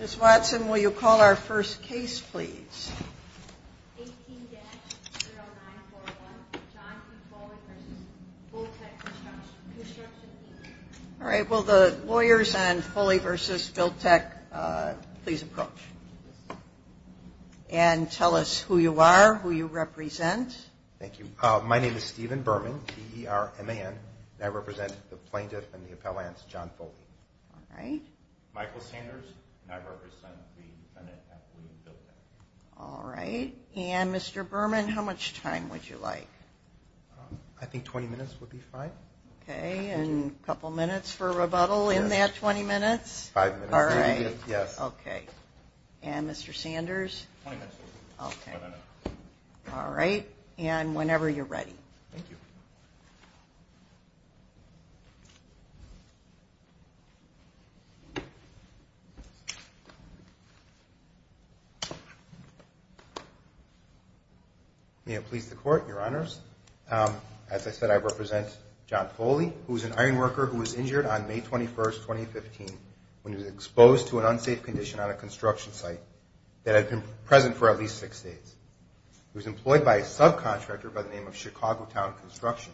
Ms. Watson, will you call our first case, please? 18-0941, John P. Foley v. Builtech Construction, Inc. All right, will the lawyers on Foley v. Builtech please approach? And tell us who you are, who you represent. Thank you. My name is Stephen Berman, T-E-R-M-A-N, and I represent the plaintiff and the appellants, John Foley. All right. Michael Sanders, and I represent the defendant at William Builtech. All right. And Mr. Berman, how much time would you like? I think 20 minutes would be fine. Okay, and a couple minutes for rebuttal in that 20 minutes? Five minutes. All right. Yes. Okay. And Mr. Sanders? 20 minutes. Okay. One minute. All right. And whenever you're ready. Thank you. May it please the Court, Your Honors. As I said, I represent John Foley, who is an ironworker who was injured on May 21, 2015, when he was exposed to an unsafe condition on a construction site that had been present for at least six days. He was employed by a subcontractor by the name of Chicago Town Construction.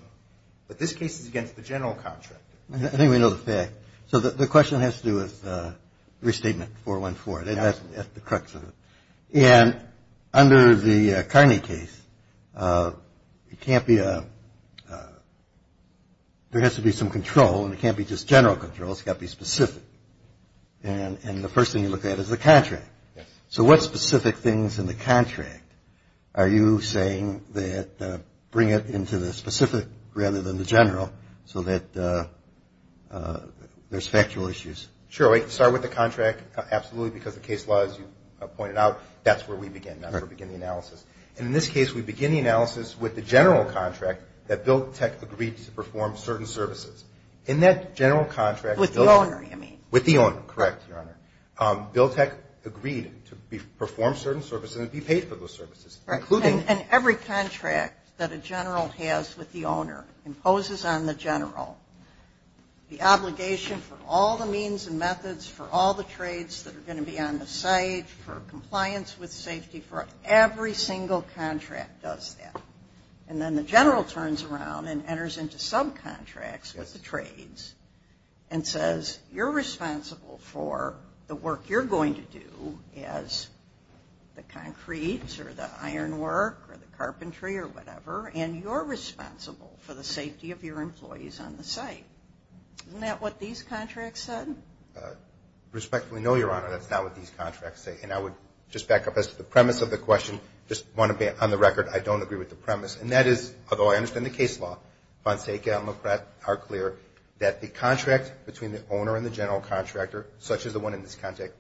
But this case is against the general contract. I think we know the fact. So the question has to do with Restatement 414. That's the crux of it. And under the Carney case, there has to be some control, and it can't be just general control. It's got to be specific. And the first thing you look at is the contract. Yes. So what specific things in the contract are you saying that bring it into the specific rather than the general, so that there's factual issues? Sure. We can start with the contract, absolutely, because the case law, as you pointed out, that's where we begin. That's where we begin the analysis. And in this case, we begin the analysis with the general contract that BILTEC agreed to perform certain services. In that general contract, With the owner. Correct, Your Honor. BILTEC agreed to perform certain services and be paid for those services, including And every contract that a general has with the owner imposes on the general the obligation for all the means and methods for all the trades that are going to be on the site, for compliance with safety, for every single contract does that. And then the general turns around and enters into subcontracts with the trades and says, You're responsible for the work you're going to do as the concrete or the iron work or the carpentry or whatever, and you're responsible for the safety of your employees on the site. Isn't that what these contracts said? Respectfully, no, Your Honor. That's not what these contracts say. And I would just back up. As to the premise of the question, just want to be on the record, I don't agree with the premise. And that is, although I understand the case law, Fonseca and Lopret are clear that the contract between the owner and the general contractor, such as the one in this context,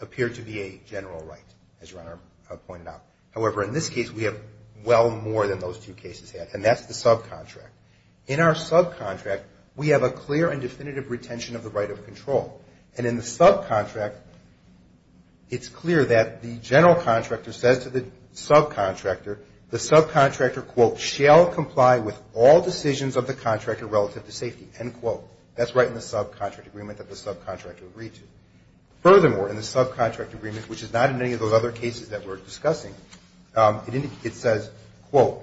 appear to be a general right, as Your Honor pointed out. However, in this case, we have well more than those two cases had, and that's the subcontract. In our subcontract, we have a clear and definitive retention of the right of control. And in the subcontract, it's clear that the general contractor says to the subcontractor, the subcontractor, quote, shall comply with all decisions of the contractor relative to safety, end quote. That's right in the subcontract agreement that the subcontractor agreed to. Furthermore, in the subcontract agreement, which is not in any of those other cases that we're discussing, it says, quote,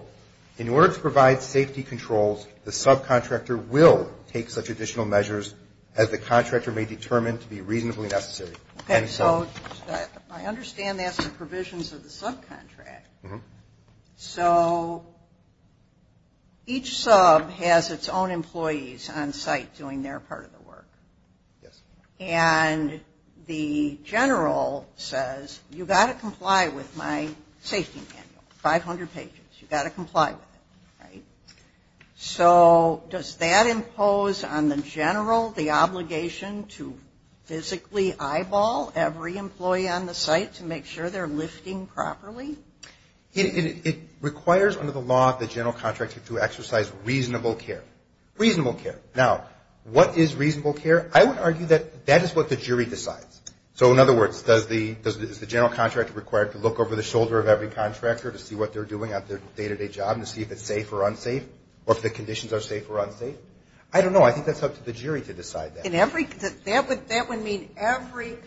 in order to provide safety controls, the subcontractor will take such additional measures as the contractor may determine to be reasonably necessary. And so I understand that's the provisions of the subcontract. Mm-hmm. So each sub has its own employees on site doing their part of the work. Yes. And the general says, you've got to comply with my safety manual, 500 pages. You've got to comply with it. Right? Mm-hmm. So does that impose on the general the obligation to physically eyeball every employee on the site to make sure they're lifting properly? It requires under the law of the general contractor to exercise reasonable care. Reasonable care. Now, what is reasonable care? I would argue that that is what the jury decides. So in other words, does the general contractor require to look over the shoulder of every contractor to see what they're doing at their day-to-day job and to see if it's safe or unsafe or if the conditions are safe or unsafe? I don't know. I think that's up to the jury to decide that. That would mean every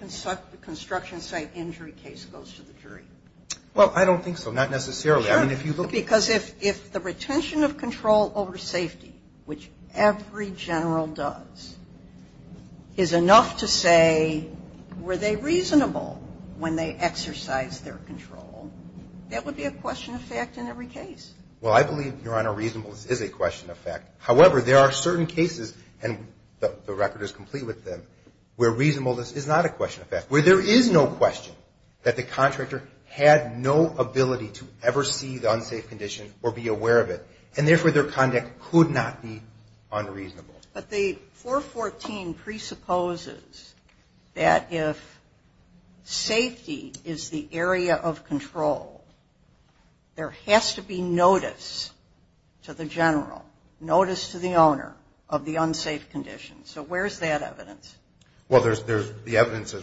construction site injury case goes to the jury. Well, I don't think so. Not necessarily. Sure. Because if the retention of control over safety, which every general does, is enough to say were they reasonable when they exercised their control, that would be a question of fact in every case. Well, I believe, Your Honor, reasonableness is a question of fact. However, there are certain cases, and the record is complete with them, where reasonableness is not a question of fact. Where there is no question that the contractor had no ability to ever see the unsafe condition or be aware of it, and therefore, their conduct could not be unreasonable. But the 414 presupposes that if safety is the area of control, there has to be notice to the general, notice to the owner of the unsafe condition. So where is that evidence? Well, there's the evidence.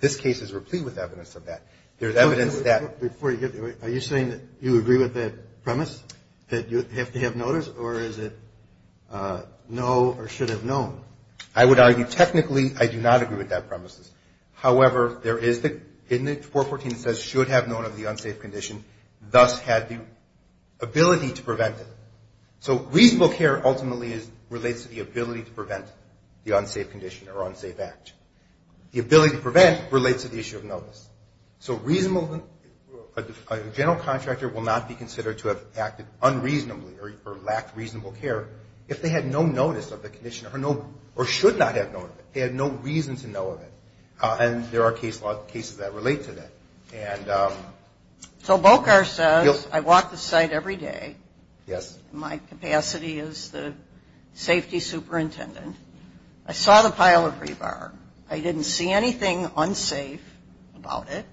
This case is complete with evidence of that. There's evidence that before you get to it, are you saying that you agree with that premise, that you have to have notice, or is it no or should have known? I would argue technically I do not agree with that premise. However, there is the 414 that says should have known of the unsafe condition, thus had the ability to prevent it. So reasonable care ultimately relates to the ability to prevent the unsafe condition or unsafe act. The ability to prevent relates to the issue of notice. So reasonable, a general contractor will not be considered to have acted unreasonably or lacked reasonable care if they had no notice of the condition or should not have known of it. They had no reason to know of it. And there are cases that relate to that. So BOCAR says I walk the site every day. Yes. I saw the pile of rebar. I didn't see anything unsafe about it.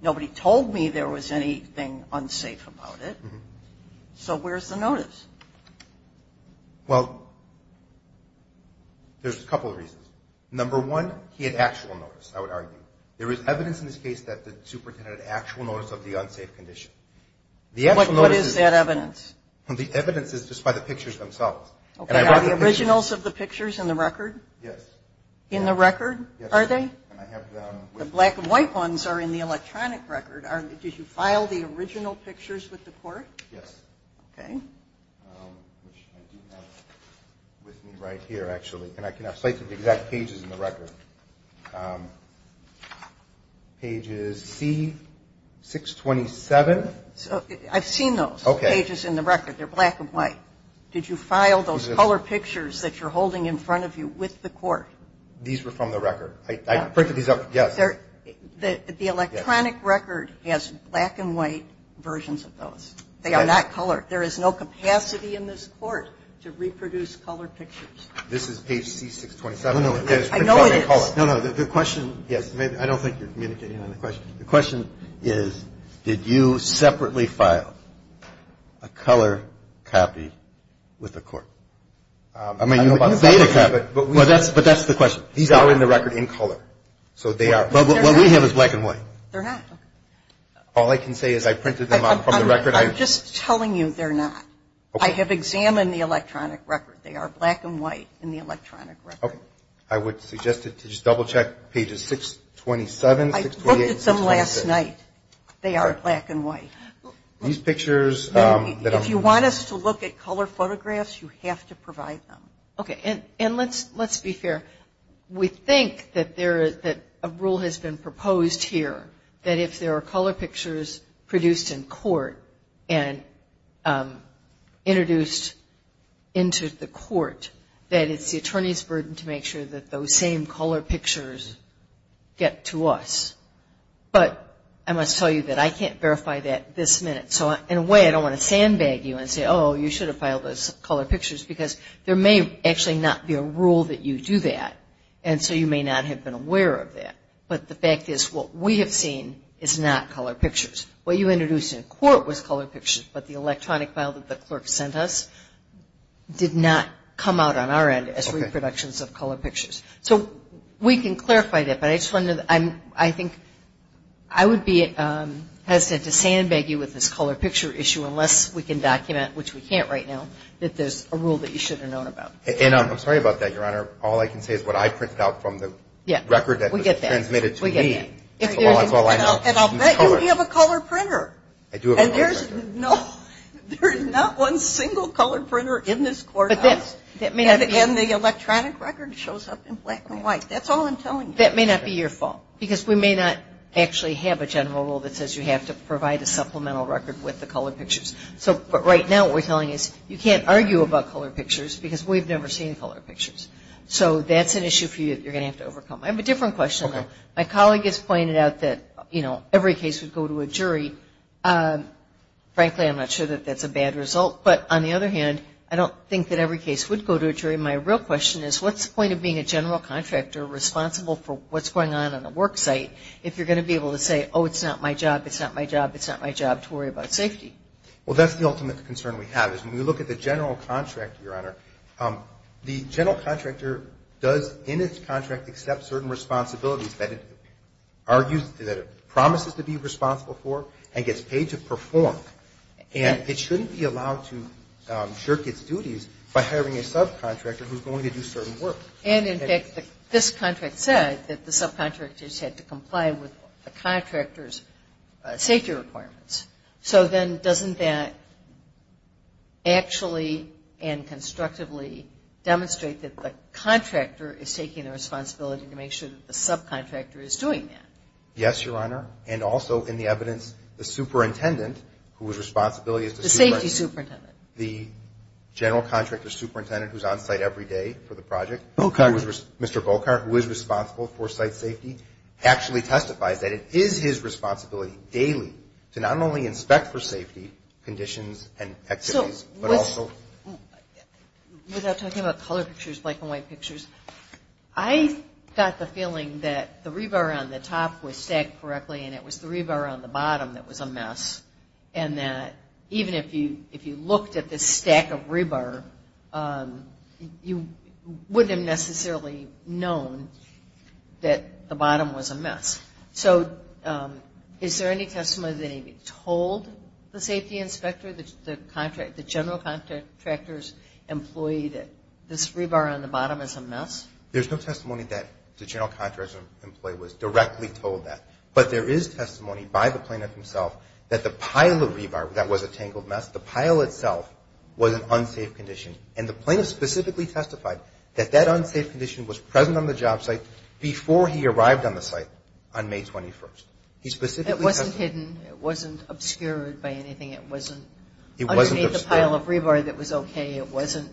Nobody told me there was anything unsafe about it. So where's the notice? Well, there's a couple of reasons. Number one, he had actual notice, I would argue. There is evidence in this case that the superintendent had actual notice of the unsafe condition. What is that evidence? The evidence is just by the pictures themselves. Are the originals of the pictures in the record? Yes. In the record? Yes. Are they? I have them. The black and white ones are in the electronic record. Did you file the original pictures with the court? Yes. Okay. Which I do have with me right here, actually. And I can have a slate of the exact pages in the record. Pages C, 627. I've seen those pages in the record. They're black and white. Did you file those color pictures that you're holding in front of you with the court? These were from the record. I printed these out. Yes. The electronic record has black and white versions of those. They are not colored. There is no capacity in this court to reproduce color pictures. This is page C, 627. No, no. I know it is. No, no. The question, yes. I don't think you're communicating on the question. The question is, did you separately file a color copy with the court? I mean, you made a copy. But that's the question. These are in the record in color. So they are. What we have is black and white. They're not. All I can say is I printed them out from the record. I'm just telling you they're not. I have examined the electronic record. They are black and white in the electronic record. Okay. I would suggest to just double check pages 627, 628. I printed some last night. They are black and white. These pictures that are produced. If you want us to look at color photographs, you have to provide them. Okay. And let's be fair. We think that a rule has been proposed here that if there are color pictures produced in court and introduced into the court, that it's the attorney's burden to make sure that those same color pictures get to us. But I must tell you that I can't verify that this minute. So in a way, I don't want to sandbag you and say, oh, you should have filed those color pictures, because there may actually not be a rule that you do that, and so you may not have been aware of that. But the fact is what we have seen is not color pictures. What you introduced in court was color pictures, but the electronic file that the clerk sent us did not come out on our end as reproductions of color pictures. So we can clarify that. But I just wanted to – I think I would be hesitant to sandbag you with this color picture issue unless we can document, which we can't right now, that there's a rule that you should have known about. And I'm sorry about that, Your Honor. All I can say is what I printed out from the record that was transmitted to me. We get that. Well, that's all I know. And I'll bet you we have a color printer. I do have a color printer. And there's not one single color printer in this courthouse. And the electronic record shows up in black and white. That's all I'm telling you. That may not be your fault, because we may not actually have a general rule that says you have to provide a supplemental record with the color pictures. But right now what we're telling you is you can't argue about color pictures because we've never seen color pictures. So that's an issue for you that you're going to have to overcome. I have a different question. My colleague has pointed out that, you know, every case would go to a jury. Frankly, I'm not sure that that's a bad result. But on the other hand, I don't think that every case would go to a jury. My real question is, what's the point of being a general contractor responsible for what's going on on the work site if you're going to be able to say, oh, it's not my job, it's not my job, it's not my job to worry about safety? Well, that's the ultimate concern we have, is when we look at the general contractor, Your Honor, the general contractor does in its contract accept certain responsibilities that it argues that it promises to be responsible for and gets paid to perform. And it shouldn't be allowed to jerk its duties by hiring a subcontractor who's going to do certain work. And, in fact, this contract said that the subcontractors had to comply with the contractor's safety requirements. So then doesn't that actually and constructively demonstrate that the contractor is taking the responsibility to make sure that the subcontractor is doing that? Yes, Your Honor. And also in the evidence, the superintendent whose responsibility is to supervise you. The safety superintendent. The general contractor superintendent who's on site every day for the project, Mr. Volcker, who is responsible for site safety, actually testifies that it is his responsibility daily to not only inspect for safety conditions and activities, but also. Without talking about color pictures, black and white pictures, I got the feeling that the rebar on the top was stacked correctly and it was the rebar on the bottom that was a mess. And that even if you looked at this stack of rebar, you wouldn't have necessarily known that the bottom was a mess. So is there any testimony that he told the safety inspector, the general contractor's employee that this rebar on the bottom is a mess? There's no testimony that the general contractor's employee was directly told that. But there is testimony by the plaintiff himself that the pile of rebar that was a tangled mess, the pile itself was an unsafe condition. And the plaintiff specifically testified that that unsafe condition was present on the job site before he arrived on the site on May 21st. He specifically testified. It wasn't hidden. It wasn't obscured by anything. It wasn't. It wasn't obscured. Underneath the pile of rebar that was okay. It wasn't.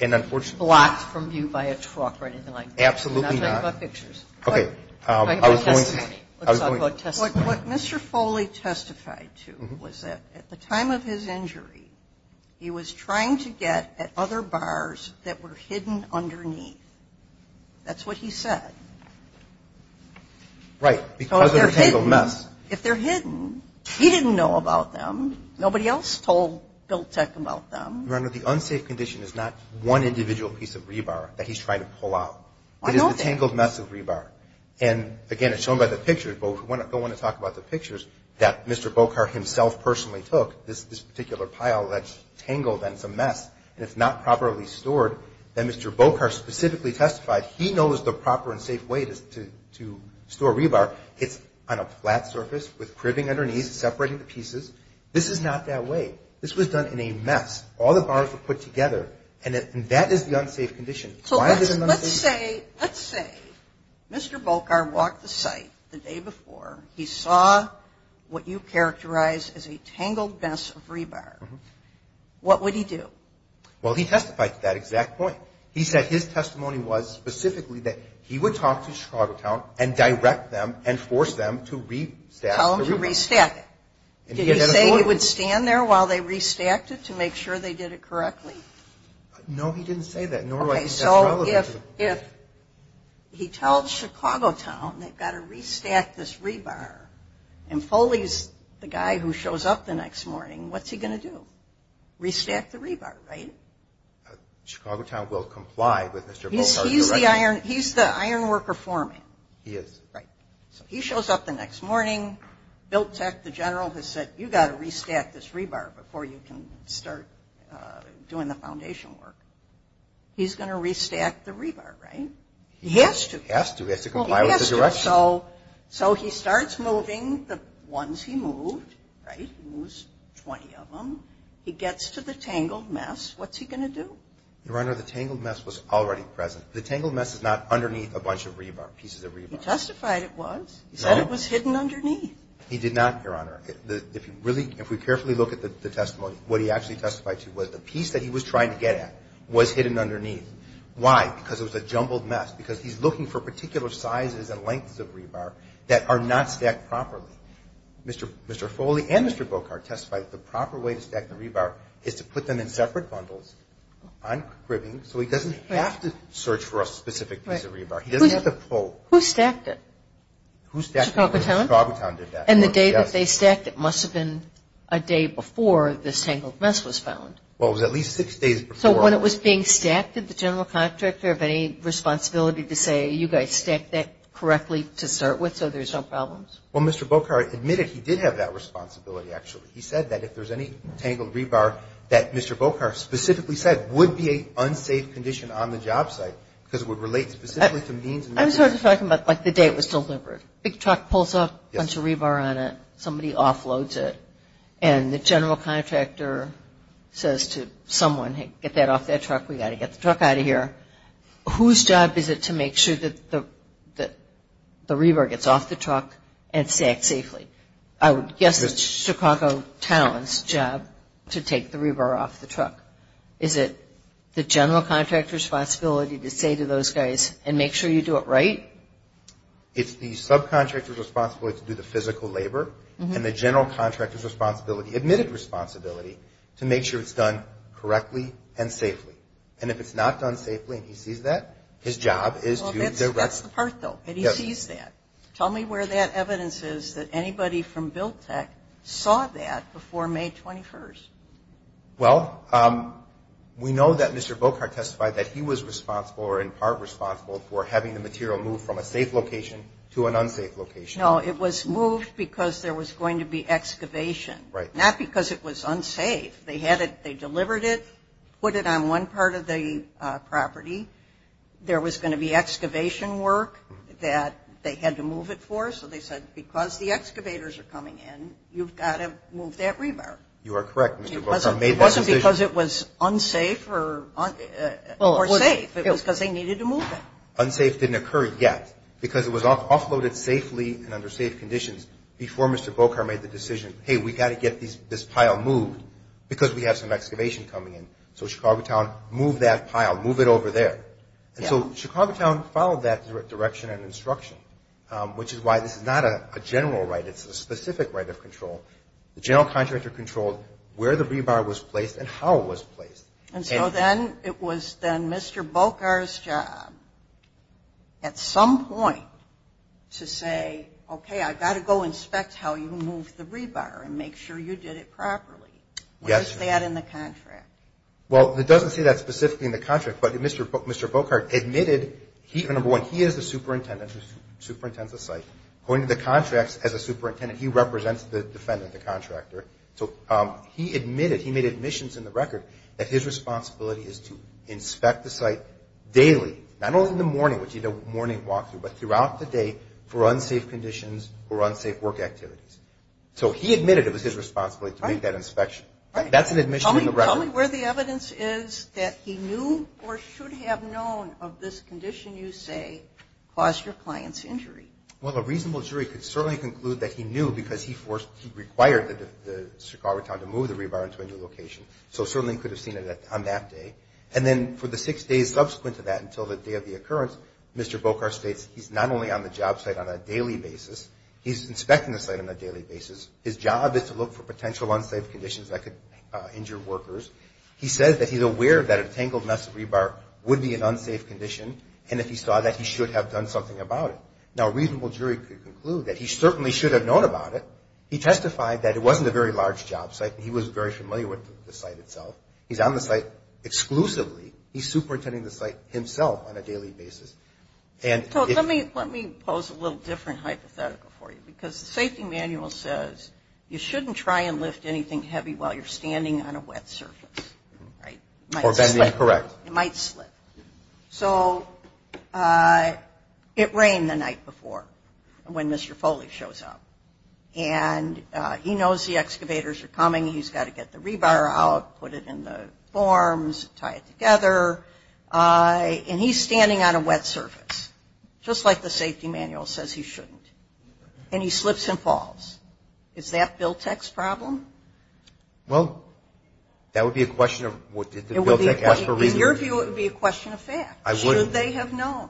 And unfortunately. Blocked from view by a truck or anything like that. Absolutely not. We're not talking about pictures. Okay. I have a testimony. Let's talk about testimony. What Mr. Foley testified to was that at the time of his injury, he was trying to get at other bars that were hidden underneath. That's what he said. Right. Because they're a tangled mess. If they're hidden, he didn't know about them. Nobody else told Bill Teck about them. Your Honor, the unsafe condition is not one individual piece of rebar that he's trying to pull out. I know that. It is a tangled mess of rebar. And, again, it's shown by the pictures. But we don't want to talk about the pictures that Mr. Bokar himself personally took. This particular pile that's tangled and it's a mess. And it's not properly stored. And Mr. Bokar specifically testified he knows the proper and safe way to store rebar. It's on a flat surface with cribbing underneath, separating the pieces. This is not that way. This was done in a mess. All the bars were put together. And that is the unsafe condition. So let's say Mr. Bokar walked the site the day before. He saw what you characterize as a tangled mess of rebar. What would he do? Well, he testified to that exact point. He said his testimony was specifically that he would talk to Chicago Town and direct them and force them to re-stack the rebar. Tell them to re-stack it. Did he say he would stand there while they re-stacked it to make sure they did it correctly? No, he didn't say that. Okay, so if he tells Chicago Town they've got to re-stack this rebar and Foley's the guy who shows up the next morning, what's he going to do? Re-stack the rebar, right? Chicago Town will comply with Mr. Bokar's direction. He's the iron worker for me. He is. Right. So he shows up the next morning. Biltec, the general, has said you've got to re-stack this rebar before you can start doing the foundation work. He's going to re-stack the rebar, right? He has to. He has to. He has to comply with the direction. He has to. So he starts moving the ones he moved, right? He moves 20 of them. He gets to the tangled mess. What's he going to do? Your Honor, the tangled mess was already present. The tangled mess is not underneath a bunch of pieces of rebar. He testified it was. He said it was hidden underneath. He did not, Your Honor. If you really, if we carefully look at the testimony, what he actually testified to was the piece that he was trying to get at was hidden underneath. Why? Because it was a jumbled mess, because he's looking for particular sizes and lengths of rebar that are not stacked properly. Mr. Foley and Mr. Bokar testified that the proper way to stack the rebar is to put them in separate bundles on cribbing so he doesn't have to search for a specific piece of rebar. He doesn't have to pull. Who stacked it? Who stacked it? Chicago Town? Chicago Town did that. And the day that they stacked it must have been a day before this tangled mess was found. Well, it was at least six days before. So when it was being stacked, did the general contractor have any responsibility to say, you guys stacked that correctly to start with so there's no problems? Well, Mr. Bokar admitted he did have that responsibility, actually. He said that if there's any tangled rebar that Mr. Bokar specifically said would be an unsafe condition on the job site because it would relate specifically to means and measures. I'm talking about like the day it was delivered. A big truck pulls up, a bunch of rebar on it. Somebody offloads it. And the general contractor says to someone, hey, get that off that truck. We've got to get the truck out of here. Whose job is it to make sure that the rebar gets off the truck and stacked safely? I would guess it's Chicago Town's job to take the rebar off the truck. Is it the general contractor's responsibility to say to those guys, and make sure you do it right? It's the subcontractor's responsibility to do the physical labor, and the general contractor's responsibility, admitted responsibility, to make sure it's done correctly and safely. And if it's not done safely and he sees that, his job is to do the rest. That's the part, though, that he sees that. Tell me where that evidence is that anybody from BILTEC saw that before May 21st. Well, we know that Mr. Bokar testified that he was responsible or in part responsible for having the material move from a safe location to an unsafe location. No, it was moved because there was going to be excavation. Right. Not because it was unsafe. They delivered it, put it on one part of the property. There was going to be excavation work that they had to move it for, so they said because the excavators are coming in, you've got to move that rebar. You are correct, Mr. Bokar. It wasn't because it was unsafe or safe. It was because they needed to move it. Unsafe didn't occur yet because it was offloaded safely and under safe conditions before Mr. Bokar made the decision, hey, we've got to get this pile moved because we have some excavation coming in. So Chicago Town moved that pile, moved it over there. And so Chicago Town followed that direction and instruction, which is why this is not a general right. It's a specific right of control. The general contractor controlled where the rebar was placed and how it was placed. And so then it was then Mr. Bokar's job at some point to say, okay, I've got to go inspect how you moved the rebar and make sure you did it properly. Yes. What is that in the contract? Well, it doesn't say that specifically in the contract, but Mr. Bokar admitted, number one, he is the superintendent who superintends the site. According to the contracts, as a superintendent, he represents the defendant, the contractor. So he admitted, he made admissions in the record, that his responsibility is to inspect the site daily, not only in the morning, which is a morning walk-through, but throughout the day for unsafe conditions or unsafe work activities. So he admitted it was his responsibility to make that inspection. Right. That's an admission in the record. Tell me where the evidence is that he knew or should have known of this condition you say caused your client's injury. Well, a reasonable jury could certainly conclude that he knew because he required the Chicago Town to move the rebar into a new location. So certainly he could have seen it on that day. And then for the six days subsequent to that until the day of the occurrence, Mr. Bokar states he's not only on the job site on a daily basis, he's inspecting the site on a daily basis. His job is to look for potential unsafe conditions that could injure workers. He says that he's aware that a tangled mess of rebar would be an unsafe condition and that he saw that he should have done something about it. Now, a reasonable jury could conclude that he certainly should have known about it. He testified that it wasn't a very large job site and he was very familiar with the site itself. He's on the site exclusively. He's superintending the site himself on a daily basis. So let me pose a little different hypothetical for you because the safety manual says you shouldn't try and lift anything heavy while you're standing on a wet surface. Right. Or bending. Correct. It might slip. So it rained the night before when Mr. Foley shows up and he knows the excavators are coming. He's got to get the rebar out, put it in the forms, tie it together, and he's standing on a wet surface, just like the safety manual says he shouldn't, and he slips and falls. Is that BILTEC's problem? Well, that would be a question of what the BILTEC asked for reasons. In your view, it would be a question of facts. I wouldn't. Should they have known?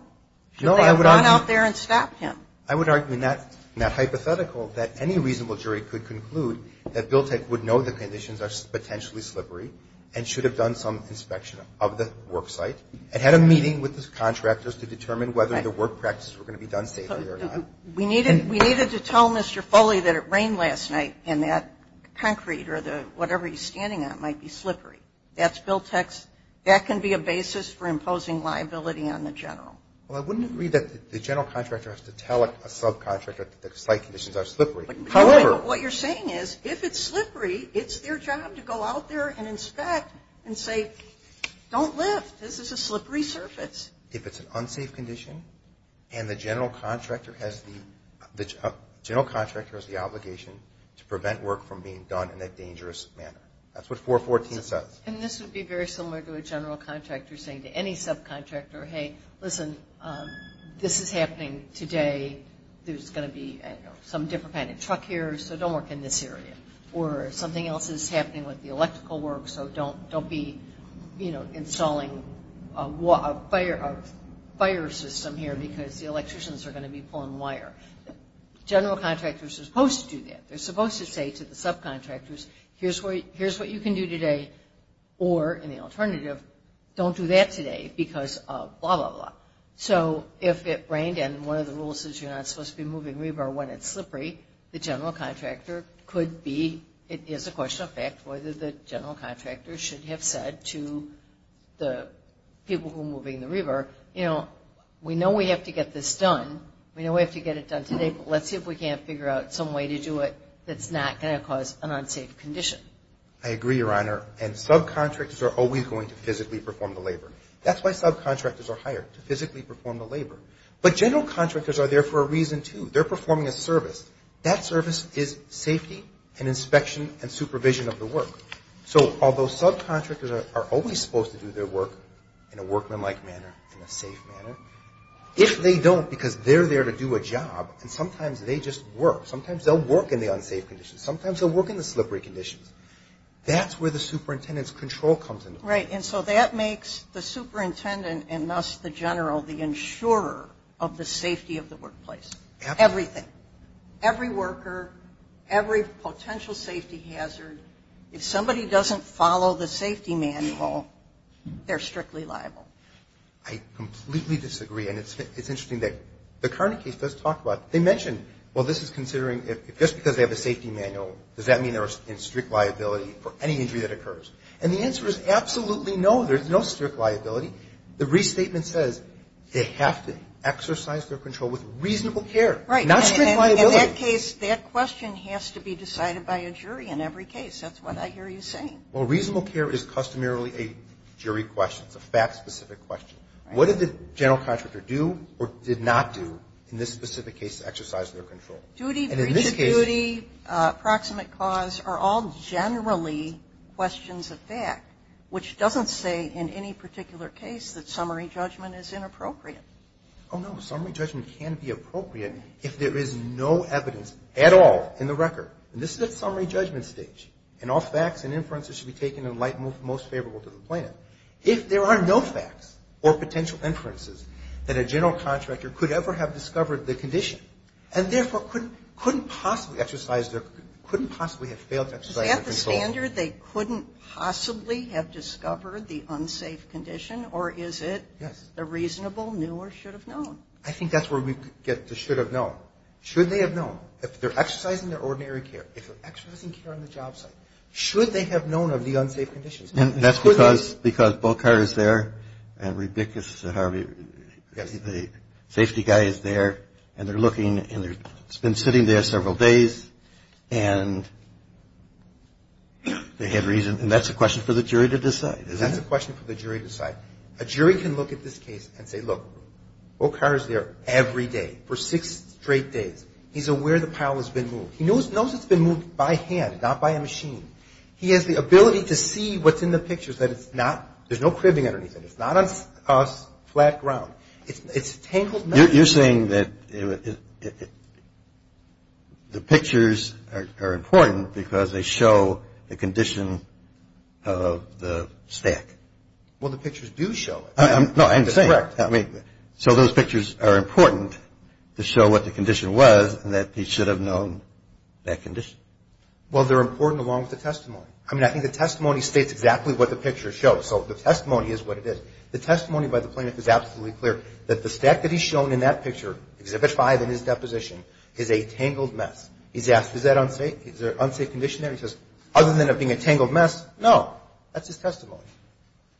Should they have gone out there and stopped him? I would argue in that hypothetical that any reasonable jury could conclude that BILTEC would know the conditions are potentially slippery and should have done some inspection of the work site and had a meeting with the contractors to determine whether the work practices were going to be done safely or not. We needed to tell Mr. Foley that it rained last night and that concrete or whatever he's standing on might be slippery. That's BILTEC's. That can be a basis for imposing liability on the general. Well, I wouldn't agree that the general contractor has to tell a subcontractor that the site conditions are slippery. However, what you're saying is if it's slippery, it's their job to go out there and inspect and say, don't lift. This is a slippery surface. If it's an unsafe condition and the general contractor has the obligation to prevent work from being done in a dangerous manner. That's what 414 says. And this would be very similar to a general contractor saying to any subcontractor, hey, listen, this is happening today. There's going to be some different kind of truck here, so don't work in this area. Or something else is happening with the electrical work, so don't be installing a fire system here because the electricians are going to be pulling wire. General contractors are supposed to do that. They're supposed to say to the subcontractors, here's what you can do today, or in the alternative, don't do that today because of blah, blah, blah. So if it rained and one of the rules is you're not supposed to be moving rebar when it's slippery, the general contractor could be, it is a question of fact, whether the general contractor should have said to the people who are moving the rebar, you know, we know we have to get this done. We know we have to get it done today, but let's see if we can't figure out some way to do it that's not going to cause an unsafe condition. I agree, Your Honor, and subcontractors are always going to physically perform the labor. That's why subcontractors are hired, to physically perform the labor. But general contractors are there for a reason, too. They're performing a service. That service is safety and inspection and supervision of the work. So although subcontractors are always supposed to do their work in a workmanlike manner, in a safe manner, if they don't because they're there to do a job and sometimes they just work, sometimes they'll work in the unsafe conditions. Sometimes they'll work in the slippery conditions. That's where the superintendent's control comes into play. Right, and so that makes the superintendent and thus the general the insurer of the safety of the workplace. Absolutely. Everything. Every worker, every potential safety hazard. If somebody doesn't follow the safety manual, they're strictly liable. I completely disagree, and it's interesting that the current case does talk about it. They mention, well, this is considering if just because they have a safety manual, does that mean they're in strict liability for any injury that occurs? And the answer is absolutely no. There's no strict liability. The restatement says they have to exercise their control with reasonable care, not strict liability. Right, and in that case, that question has to be decided by a jury in every case. That's what I hear you saying. Well, reasonable care is customarily a jury question. It's a fact-specific question. What did the general contractor do or did not do in this specific case to exercise their control? Duty, breach of duty, approximate cause are all generally questions of fact, which doesn't say in any particular case that summary judgment is inappropriate. Oh, no. Summary judgment can be appropriate if there is no evidence at all in the record. And this is at summary judgment stage. And all facts and inferences should be taken in the light most favorable to the plaintiff. If there are no facts or potential inferences, then a general contractor could ever have discovered the condition and therefore couldn't possibly have failed to exercise their control. Is that the standard, they couldn't possibly have discovered the unsafe condition? Or is it the reasonable, knew or should have known? I think that's where we get to should have known. Should they have known? If they're exercising their ordinary care, if they're exercising care on the job site, should they have known of the unsafe conditions? And that's because Bochar is there and Rebick is there, the safety guy is there, and they're looking and it's been sitting there several days and they had reason. And that's a question for the jury to decide, isn't it? That's a question for the jury to decide. A jury can look at this case and say, look, Bochar is there every day for six straight days. He's aware the pile has been moved. He knows it's been moved by hand, not by a machine. He has the ability to see what's in the pictures, that it's not, there's no cribbing underneath it. It's not on flat ground. It's tangled. You're saying that the pictures are important because they show the condition of the stack. Well, the pictures do show it. No, I understand. That's correct. So those pictures are important to show what the condition was and that he should have known that condition. Well, they're important along with the testimony. I mean, I think the testimony states exactly what the picture shows. So the testimony is what it is. The testimony by the plaintiff is absolutely clear that the stack that he's shown in that picture, Exhibit 5 in his deposition, is a tangled mess. He's asked, is that unsafe? Is there an unsafe condition there? That's his testimony.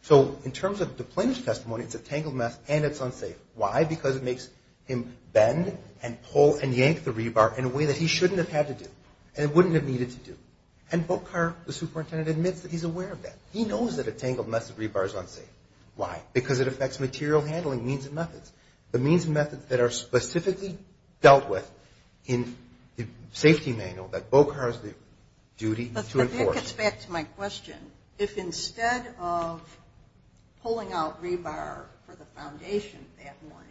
So in terms of the plaintiff's testimony, it's a tangled mess and it's unsafe. Why? Because it makes him bend and pull and yank the rebar in a way that he shouldn't have had to do and wouldn't have needed to do. And Bochar, the superintendent, admits that he's aware of that. He knows that a tangled mess of rebar is unsafe. Why? Because it affects material handling, means and methods. The means and methods that are specifically dealt with in the safety manual that Bochar has the duty to enforce. But that gets back to my question. If instead of pulling out rebar for the foundation that morning,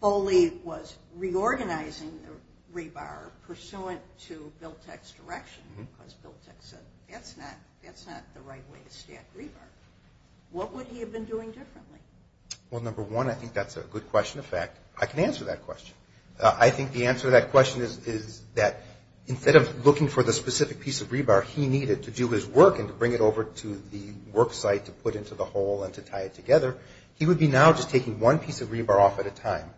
Foley was reorganizing the rebar pursuant to Biltek's direction, because Biltek said that's not the right way to stack rebar, what would he have been doing differently? Well, number one, I think that's a good question. In fact, I can answer that question. I think the answer to that question is that instead of looking for the specific piece of rebar he needed to do his work and to bring it over to the worksite to put into the hole and to tie it together, he would be now just taking one piece of rebar off at a time,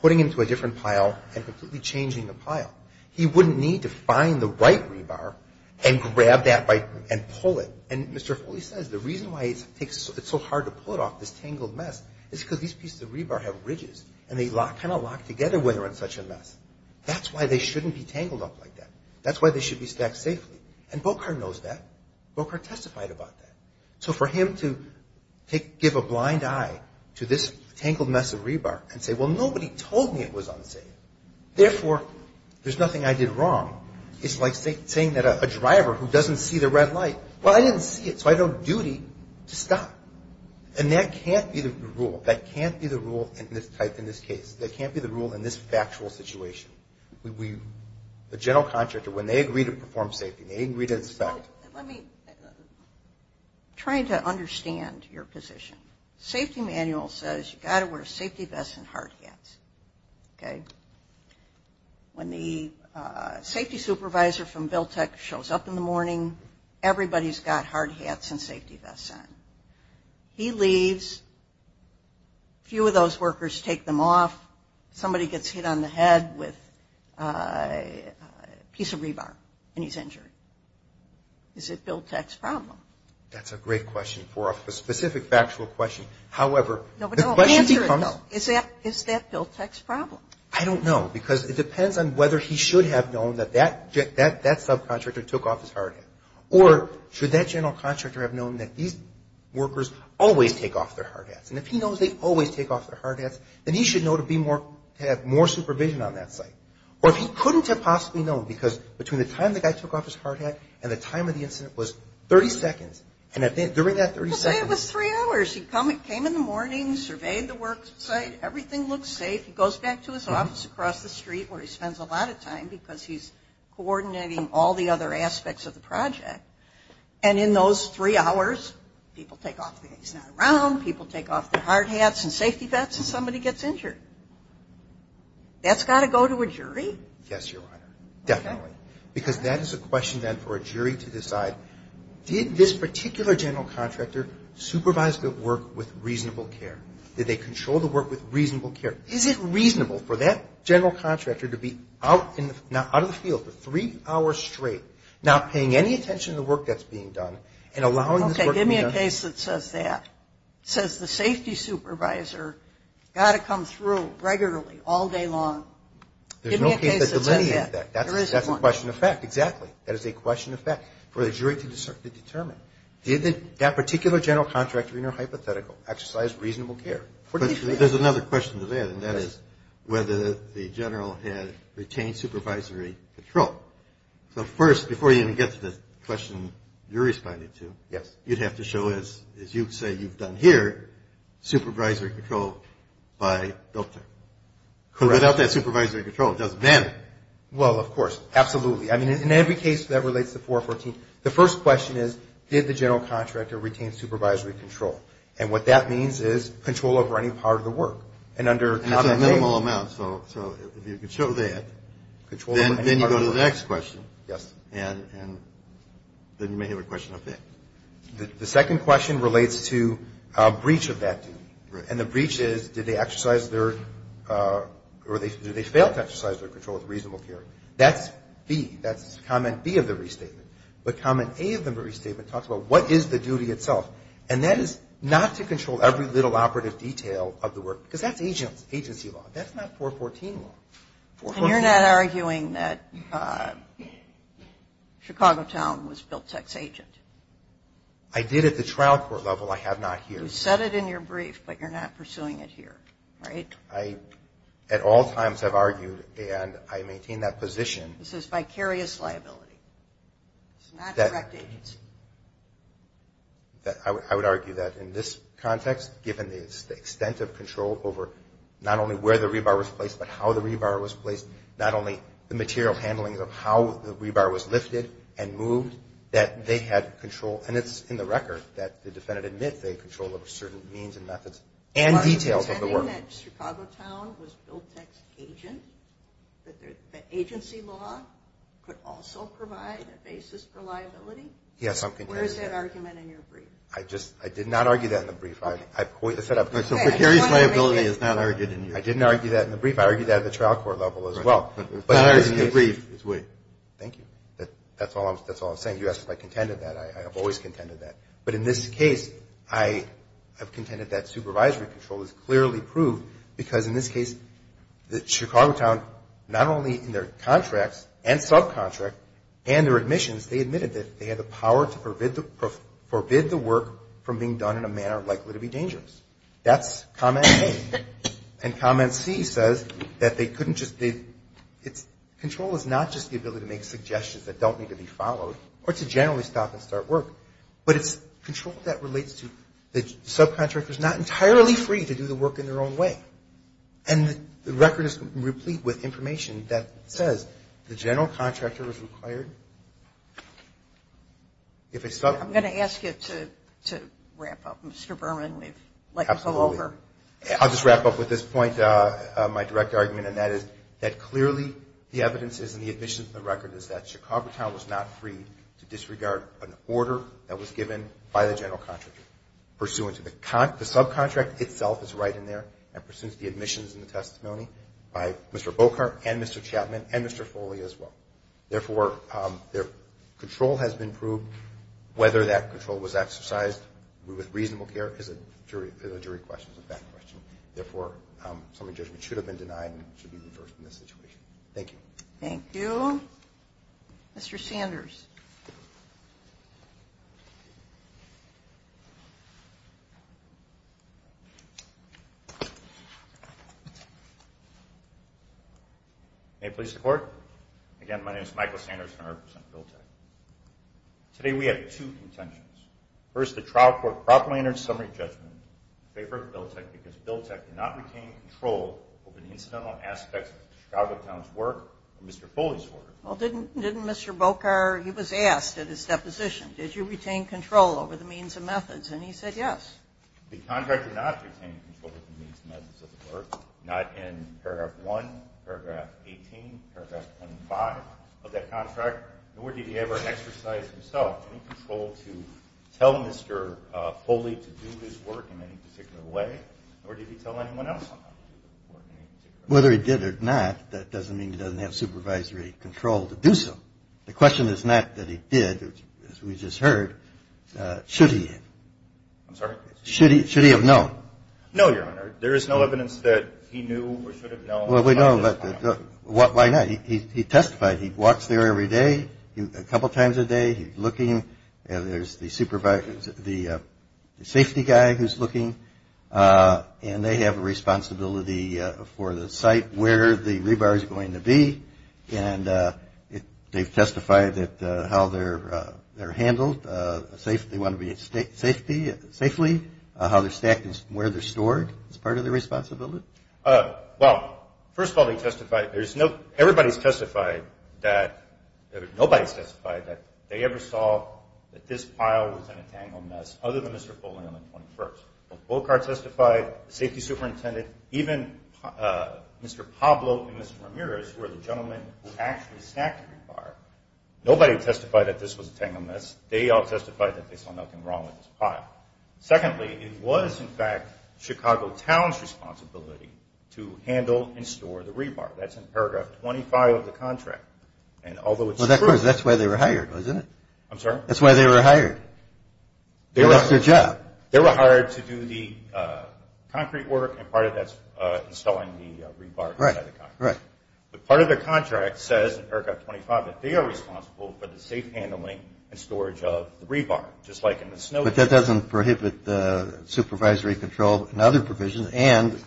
putting it into a different pile, and completely changing the pile. He wouldn't need to find the right rebar and grab that and pull it. And Mr. Foley says the reason why it's so hard to pull it off, this tangled mess, is because these pieces of rebar have ridges, and they kind of lock together when they're in such a mess. That's why they shouldn't be tangled up like that. That's why they should be stacked safely. And Bocart knows that. Bocart testified about that. So for him to give a blind eye to this tangled mess of rebar and say, well, nobody told me it was unsafe, therefore, there's nothing I did wrong, is like saying that a driver who doesn't see the red light, well, I didn't see it, so I have a duty to stop. And that can't be the rule. That can't be the rule in this type, in this case. That can't be the rule in this factual situation. The general contractor, when they agree to perform safety, they agree to inspect. Let me try to understand your position. Safety manual says you've got to wear safety vests and hard hats. Okay? When the safety supervisor from BILTEC shows up in the morning, everybody's got hard hats and safety vests on. He leaves. A few of those workers take them off. Somebody gets hit on the head with a piece of rebar and he's injured. Is it BILTEC's problem? That's a great question for a specific factual question. However, the question becomes. Is that BILTEC's problem? I don't know because it depends on whether he should have known that that subcontractor took off his hard hat or should that general contractor have known that these workers always take off their hard hats. And if he knows they always take off their hard hats, then he should know to have more supervision on that site. Or if he couldn't have possibly known because between the time the guy took off his hard hat and the time of the incident was 30 seconds, and during that 30 seconds. Let's say it was three hours. He came in the morning, surveyed the work site. Everything looked safe. He goes back to his office across the street where he spends a lot of time because he's coordinating all the other aspects of the project. And in those three hours, people take off their, he's not around, people take off their hard hats and safety vests and somebody gets injured. That's got to go to a jury? Yes, Your Honor, definitely. Because that is a question then for a jury to decide, did this particular general contractor supervise the work with reasonable care? Did they control the work with reasonable care? Is it reasonable for that general contractor to be out in the, out in the field for three hours straight not paying any attention to the work that's being done and allowing this work to be done? Okay, give me a case that says that. It says the safety supervisor got to come through regularly all day long. Give me a case that says that. There's no case that delineates that. There is one. That's a question of fact. Exactly. That is a question of fact for the jury to determine. Did that particular general contractor in your hypothetical exercise reasonable care? There's another question to that, and that is whether the general had retained supervisory control. So first, before you even get to the question you're responding to, you'd have to show us, as you say you've done here, supervisory control by Delta. Correct. Without that supervisory control, it doesn't matter. Well, of course, absolutely. I mean, in every case that relates to 414, the first question is, did the general contractor retain supervisory control? And what that means is control over any part of the work. That's a minimal amount. So if you can show that, then you go to the next question. Yes. And then you may have a question of fact. The second question relates to breach of that duty. Right. And the breach is, did they exercise their or did they fail to exercise their control of reasonable care? That's B. That's comment B of the restatement. But comment A of the restatement talks about, what is the duty itself? And that is not to control every little operative detail of the work, because that's agency law. That's not 414 law. And you're not arguing that Chicago Town was built sex agent? I did at the trial court level. I have not here. You said it in your brief, but you're not pursuing it here, right? At all times I've argued, and I maintain that position. This is vicarious liability. It's not direct agency. I would argue that in this context, given the extent of control over not only where the rebar was placed, but how the rebar was placed, not only the material handling of how the rebar was lifted and moved, that they had control. And it's in the record that the defendant admits they had control over certain means and methods and details of the work. Are you saying that Chicago Town was built sex agent? That agency law could also provide a basis for liability? Yes, I'm contending that. Where is that argument in your brief? I did not argue that in the brief. So vicarious liability is not argued in your brief? I didn't argue that in the brief. I argued that at the trial court level as well. It's not argued in your brief. Thank you. That's all I'm saying. You asked if I contended that. I have always contended that. But in this case, I have contended that supervisory control is clearly proved, because in this case, Chicago Town, not only in their contracts and subcontract and their admissions, they admitted that they had the power to forbid the work from being done in a manner likely to be dangerous. That's comment A. And comment C says that they couldn't just be, it's, control is not just the ability to make suggestions that don't need to be followed or to generally stop and start work, but it's control that relates to the subcontractors not entirely free to do the work in their own way. And the record is replete with information that says the general contractor is required if a subcontractor I'm going to ask you to wrap up. Mr. Berman, we've let you go over. Absolutely. I'll just wrap up with this point, my direct argument, and that is that clearly the evidence is and the admission of the record is that Chicago Town was not free to disregard an order that was given by the general contractor pursuant to the subcontract itself is right in there and pursuant to the admissions and the testimony by Mr. Boeckert and Mr. Chapman and Mr. Foley as well. Therefore, their control has been proved. Whether that control was exercised with reasonable care is a jury question, a fact question. Therefore, some adjustment should have been denied and should be reversed in this situation. Thank you. Thank you. Thank you. Mr. Sanders. May it please the Court? Again, my name is Michael Sanders and I represent BILTEC. Today we have two contentions. First, the trial court properly entered summary judgment in favor of BILTEC because BILTEC did not retain control over the incidental aspects of Chicago Town's work or Mr. Foley's work. Well, didn't Mr. Boeckert, he was asked at his deposition, did you retain control over the means and methods, and he said yes. The contractor did not retain control over the means and methods of the work, not in paragraph 1, paragraph 18, paragraph 25 of that contract, nor did he ever exercise himself any control to tell Mr. Foley to do his work in any particular way. Or did he tell anyone else? Whether he did or not, that doesn't mean he doesn't have supervisory control to do so. The question is not that he did, as we just heard, should he? I'm sorry? Should he have known? No, Your Honor. There is no evidence that he knew or should have known. Well, we know, but why not? He testified. He walks there every day, a couple times a day. He's looking, and there's the safety guy who's looking, and they have a responsibility for the site where the rebar is going to be, and they've testified how they're handled, they want to be safely, how they're stacked and where they're stored is part of their responsibility. Well, first of all, they testified. Everybody's testified that nobody's testified that they ever saw that this pile was in a tangled mess other than Mr. Foley on the 21st. Bocart testified, the safety superintendent, even Mr. Pablo and Mr. Ramirez, who are the gentlemen who actually stacked the rebar, nobody testified that this was a tangled mess. They all testified that they saw nothing wrong with this pile. Secondly, it was, in fact, Chicago Town's responsibility to handle and store the rebar. That's in paragraph 25 of the contract, and although it's true. Well, of course, that's why they were hired, wasn't it? I'm sorry? That's why they were hired. They left their job. They were hired to do the concrete work, and part of that's installing the rebar inside the concrete. Right, right. But part of the contract says, in paragraph 25, that they are responsible for the safe handling and storage of the rebar, just like in the snow. But that doesn't prohibit supervisory control and other provisions. And,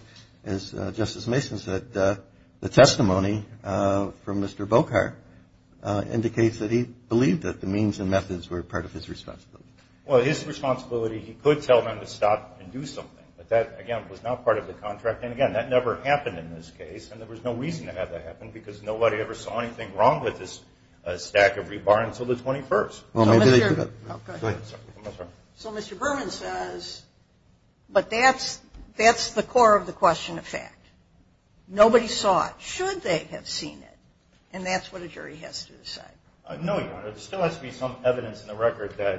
as Justice Mason said, the testimony from Mr. Bocart indicates that he believed that the means and methods were part of his responsibility. Well, his responsibility, he could tell them to stop and do something, but that, again, was not part of the contract. And, again, that never happened in this case, and there was no reason to have that happen because nobody ever saw anything wrong with this stack of rebar until the 21st. Go ahead. I'm sorry. So Mr. Berman says, but that's the core of the question of fact. Nobody saw it. Should they have seen it? And that's what a jury has to decide. No, Your Honor. There still has to be some evidence in the record that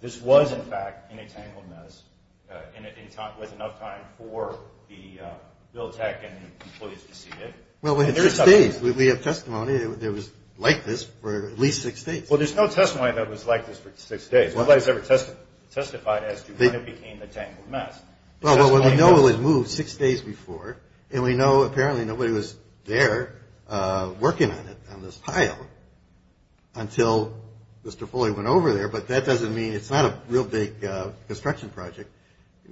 this was, in fact, an entangled mess and it was enough time for the bill of tax and the employees to see it. Well, we have six days. We have testimony that it was like this for at least six days. Well, there's no testimony that it was like this for six days. Nobody has ever testified as to when it became an entangled mess. Well, we know it was moved six days before, and we know apparently nobody was there working on it, on this pile, until Mr. Foley went over there. But that doesn't mean it's not a real big construction project.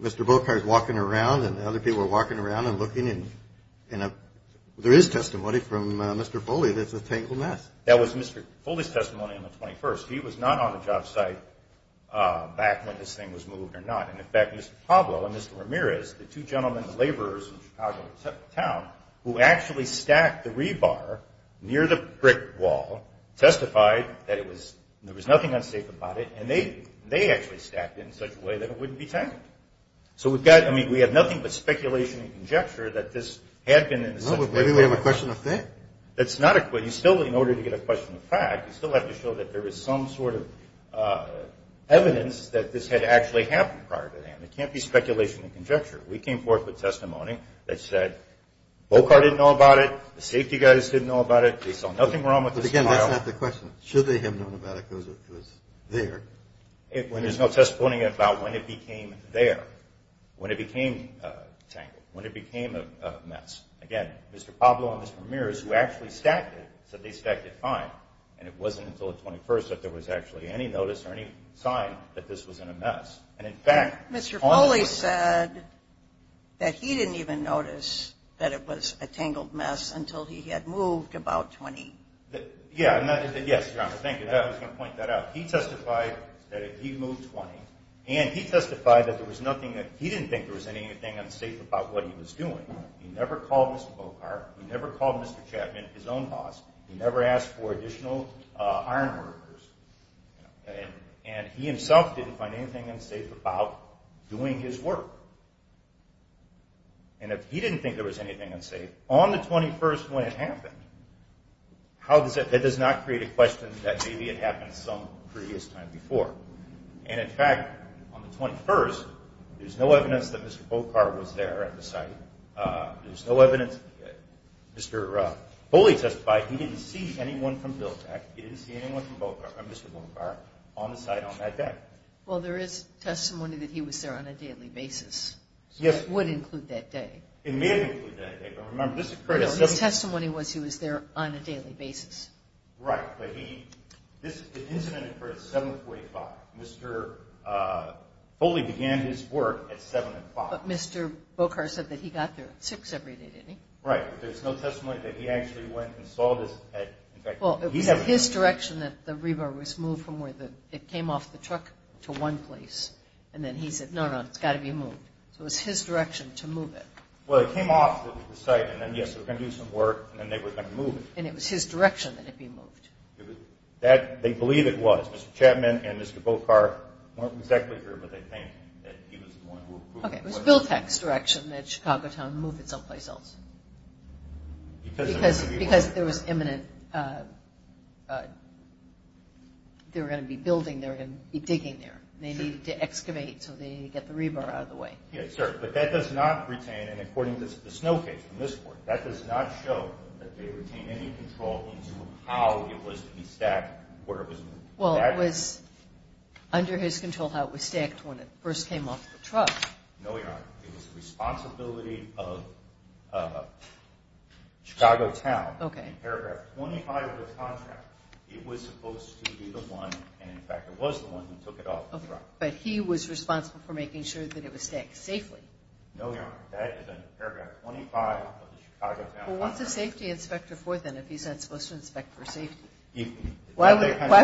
Mr. Bocart is walking around, and other people are walking around and looking, and there is testimony from Mr. Foley that it's an entangled mess. That was Mr. Foley's testimony on the 21st. He was not on the job site back when this thing was moved or not. And, in fact, Mr. Caldwell and Mr. Ramirez, the two gentlemen, the laborers in Chicago town, who actually stacked the rebar near the brick wall, testified that it was – there was nothing unsafe about it, and they actually stacked it in such a way that it wouldn't be tangled. So we've got – I mean, we have nothing but speculation and conjecture that this had been in such a way. Well, maybe we have a question of faith. That's not a – you still – in order to get a question of fact, you still have to show that there is some sort of evidence that this had actually happened prior to then. It can't be speculation and conjecture. We came forth with testimony that said Bocart didn't know about it, the safety guys didn't know about it, they saw nothing wrong with this pile. But, again, that's not the question. Should they have known about it because it was there? There's no testimony about when it became there, when it became tangled, when it became a mess. Again, Mr. Pablo and Ms. Ramirez, who actually stacked it, said they stacked it fine, and it wasn't until the 21st that there was actually any notice or any sign that this was in a mess. And, in fact – Mr. Foley said that he didn't even notice that it was a tangled mess until he had moved about 20. Yeah. Yes, Your Honor. Thank you. I was going to point that out. He testified that he moved 20, and he testified that there was nothing that – he didn't think there was anything unsafe about what he was doing. He never called Mr. Bocart. He never called Mr. Chapman, his own boss. He never asked for additional ironworkers. And he himself didn't find anything unsafe about doing his work. And if he didn't think there was anything unsafe, on the 21st when it happened, that does not create a question that maybe it happened some previous time before. And, in fact, on the 21st, there's no evidence that Mr. Bocart was there at the site. There's no evidence – Mr. Foley testified he didn't see anyone from BILTEC. He didn't see anyone from Mr. Bocart on the site on that day. Well, there is testimony that he was there on a daily basis. Yes. That would include that day. It may have included that day, but remember, this occurred – His testimony was he was there on a daily basis. Right, but the incident occurred at 7.45. Mr. Foley began his work at 7.05. But Mr. Bocart said that he got there at 6 every day, didn't he? Right, but there's no testimony that he actually went and saw this at – Well, it was his direction that the rebar was moved from where it came off the truck to one place. And then he said, no, no, it's got to be moved. So it was his direction to move it. Well, it came off the site, and then, yes, they were going to do some work, and then they were going to move it. And it was his direction that it be moved. They believe it was. Mr. Chapman and Mr. Bocart weren't exactly sure, but they think that he was the one who approved it. Okay, it was Bill Peck's direction that Chicago Town move it someplace else. Because there was imminent – they were going to be building there and digging there. They needed to excavate so they could get the rebar out of the way. Yes, sir, but that does not retain, and according to the snow case from this point, that does not show that they retain any control into how it was to be stacked, where it was moved. Well, it was under his control how it was stacked when it first came off the truck. No, Your Honor, it was the responsibility of Chicago Town. In paragraph 25 of the contract, it was supposed to be the one, and, in fact, it was the one who took it off the truck. Okay, but he was responsible for making sure that it was stacked safely. No, Your Honor, that is under paragraph 25 of the Chicago Town contract. Well, what's a safety inspector for, then, if he's not supposed to inspect for safety? Why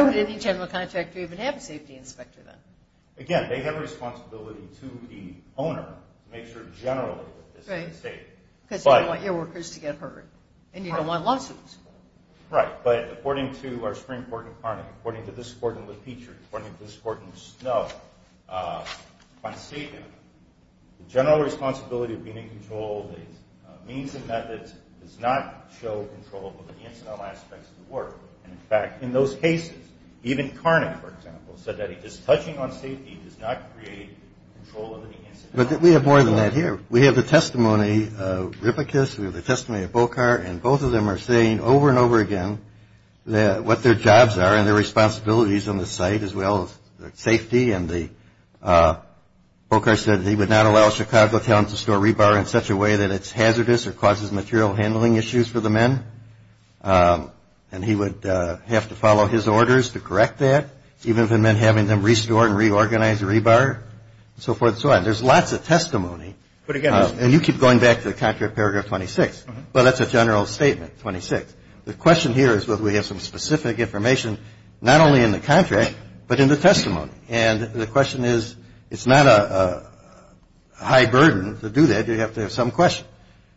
would any general contractor even have a safety inspector, then? Again, they have a responsibility to the owner to make sure generally that this is safe. Right, because you don't want your workers to get hurt, and you don't want lawsuits. Right, but according to our Supreme Court in Carnegie, according to this court in LePetre, according to this court in Snow, on safety, the general responsibility of being in control of these means and methods does not show control over the incidental aspects of the work. And, in fact, in those cases, even Carnick, for example, said that just touching on safety does not create control over the incidental aspects of the work. But we have more than that here. We have the testimony of Rippecus, we have the testimony of Bochar, and both of them are saying over and over again what their jobs are and their responsibilities on the site as well as safety. And Bochar said he would not allow a Chicago talent to store rebar in such a way that it's hazardous or causes material handling issues for the men. And he would have to follow his orders to correct that, even if it meant having them restore and reorganize the rebar, and so forth and so on. There's lots of testimony. And you keep going back to contract paragraph 26. Well, that's a general statement, 26. The question here is whether we have some specific information not only in the contract but in the testimony. And the question is it's not a high burden to do that. You have to have some question.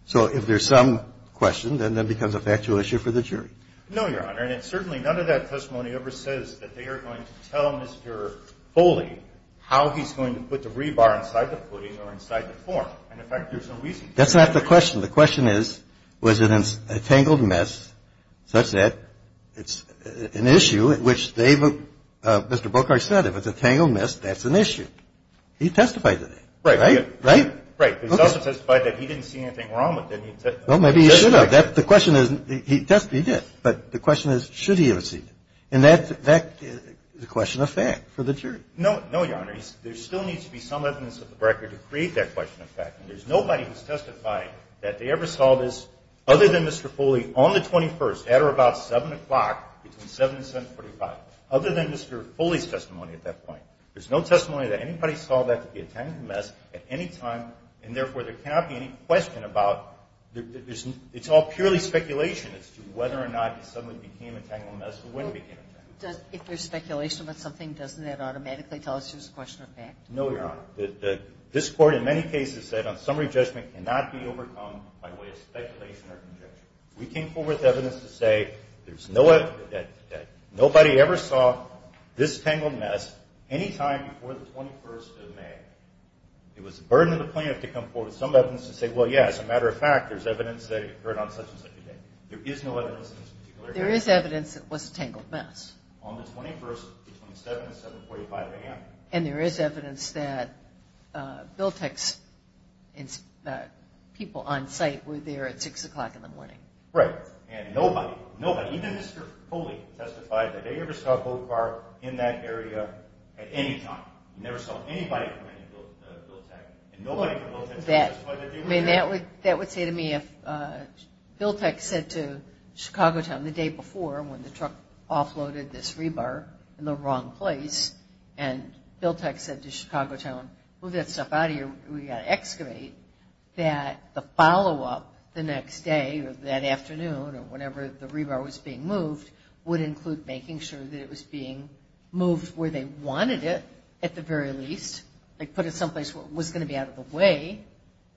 So if there's some question, then that becomes a factual issue for the jury. No, Your Honor. And certainly none of that testimony ever says that they are going to tell Mr. Foley how he's going to put the rebar inside the footing or inside the form. And, in fact, there's no reason to do that. That's not the question. The question is, was it a tangled mess such that it's an issue at which they've Mr. Bokarch said, if it's a tangled mess, that's an issue. He testified to that. Right. Right? Right. He also testified that he didn't see anything wrong with it. Well, maybe he should have. The question is, he did. But the question is, should he have seen it? And that's a question of fact for the jury. No, Your Honor. There still needs to be some evidence of the record to create that question of fact. And there's nobody who's testified that they ever saw this, other than Mr. Foley, on the 21st, at or about 7 o'clock, between 7 and 745, other than Mr. Foley's testimony at that point. There's no testimony that anybody saw that to be a tangled mess at any time, and therefore, there cannot be any question about the reason. It's all purely speculation as to whether or not it suddenly became a tangled mess or when it became a tangled mess. If there's speculation about something, doesn't that automatically tell us there's a question of fact? No, Your Honor. This Court, in many cases, said on summary judgment, cannot be overcome by way of speculation or conjecture. We came forward with evidence to say there's no evidence that nobody ever saw this tangled mess any time before the 21st of May. It was the burden of the plaintiff to come forward with some evidence to say, well, yeah, as a matter of fact, there's evidence that it occurred on such and such a day. There is no evidence in this particular case. There is evidence it was a tangled mess. On the 21st, between 7 and 745 a.m. And there is evidence that Biltek's people on site were there at 6 o'clock in the morning. Right. And nobody, nobody, even Mr. Coley testified that they ever saw a boat bar in that area at any time. Never saw anybody come in to Biltek, and nobody from Biltek testified that they were there. I mean, that would say to me if Biltek said to Chicago Time the day before when the truck offloaded this rebar in the wrong place, and Biltek said to Chicago Time, move that stuff out of here, we've got to excavate, that the follow-up the next day or that afternoon or whenever the rebar was being moved would include making sure that it was being moved where they wanted it at the very least. Like put it someplace where it was going to be out of the way.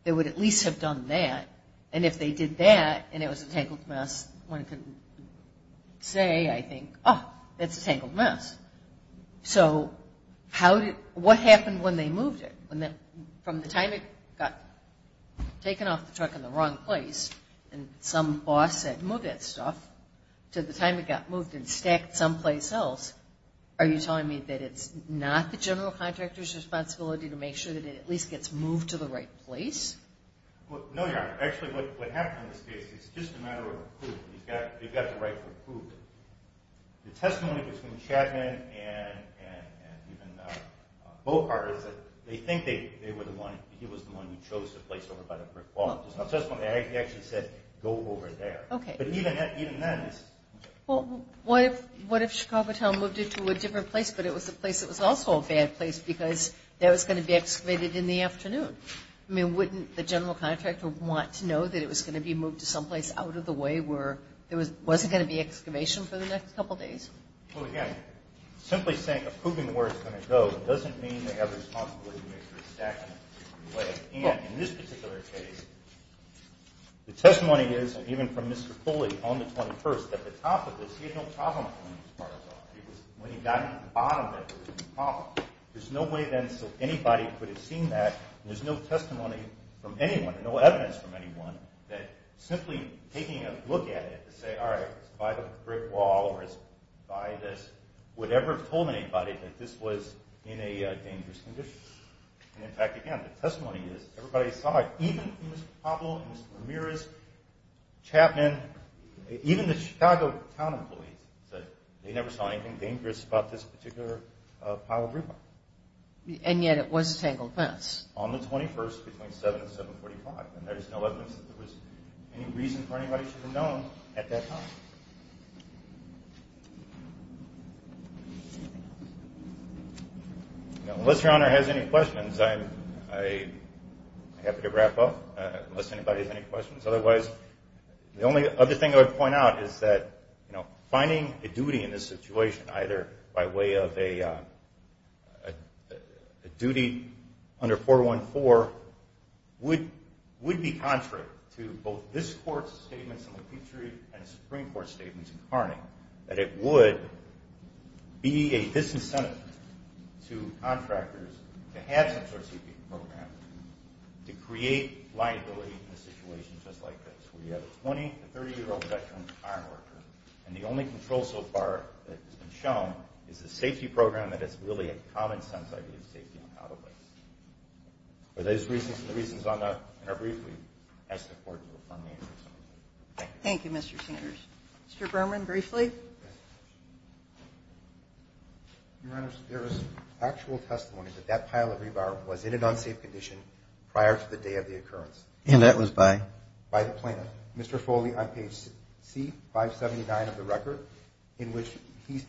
They would at least have done that. And if they did that and it was a tangled mess, one could say, I think, oh, it's a tangled mess. So how did, what happened when they moved it? From the time it got taken off the truck in the wrong place and some boss said move that stuff to the time it got moved and stacked someplace else, are you telling me that it's not the general contractor's responsibility to make sure that it at least gets moved to the right place? Well, no, Your Honor. Actually, what happened in this case, it's just a matter of approval. You've got the right to approve. The testimony between Chapman and even Bogart is that they think they were the one, he was the one who chose the place over by the brick wall. He actually said, go over there. Okay. But even then. Well, what if Chicago Time moved it to a different place but it was a place that was also a bad place because that was going to be excavated in the afternoon? I mean, wouldn't the general contractor want to know that it was going to be moved to someplace out of the way where there wasn't going to be excavation for the next couple of days? Well, again, simply saying approving where it's going to go doesn't mean they have a responsibility to make sure it's stacked in the right way. And in this particular case, the testimony is, even from Mr. Foley on the 21st, at the top of this, he had no problem pulling these tiles off. When he got to the bottom of it, there was no problem. There's no way then so anybody could have seen that, and there's no testimony from anyone, no evidence from anyone, that simply taking a look at it to say, all right, it's by the brick wall or it's by this, would ever have told anybody that this was in a dangerous condition. And, in fact, again, the testimony is everybody saw it, even Mr. Poppel, Mr. Ramirez, Chapman, even the Chicago town employees said they never saw anything dangerous about this particular pile of rubble. And yet it was tangled fence. On the 21st between 7 and 745. And there is no evidence that there was any reason for anybody to have known at that time. Unless Your Honor has any questions, I'm happy to wrap up, unless anybody has any questions. Otherwise, the only other thing I would point out is that finding a duty in this situation, either by way of a duty under 414 would be contrary to both this Court's statements in the Petrie and Supreme Court statements in Carning, that it would be a disincentive to contractors to have such a receipt program to create liability in a situation just like this. We have a 20- to 30-year-old veteran fire worker, and the only control so far that has been shown is the safety program, that it's really a common sense idea of safety on how to place. But those are the reasons on that, and I'll briefly ask the Court to affirm these. Thank you. Thank you, Mr. Singers. Mr. Berman, briefly. Your Honor, there is actual testimony that that pile of rubble was in an unsafe condition prior to the day of the occurrence. And that was by? By the plaintiff.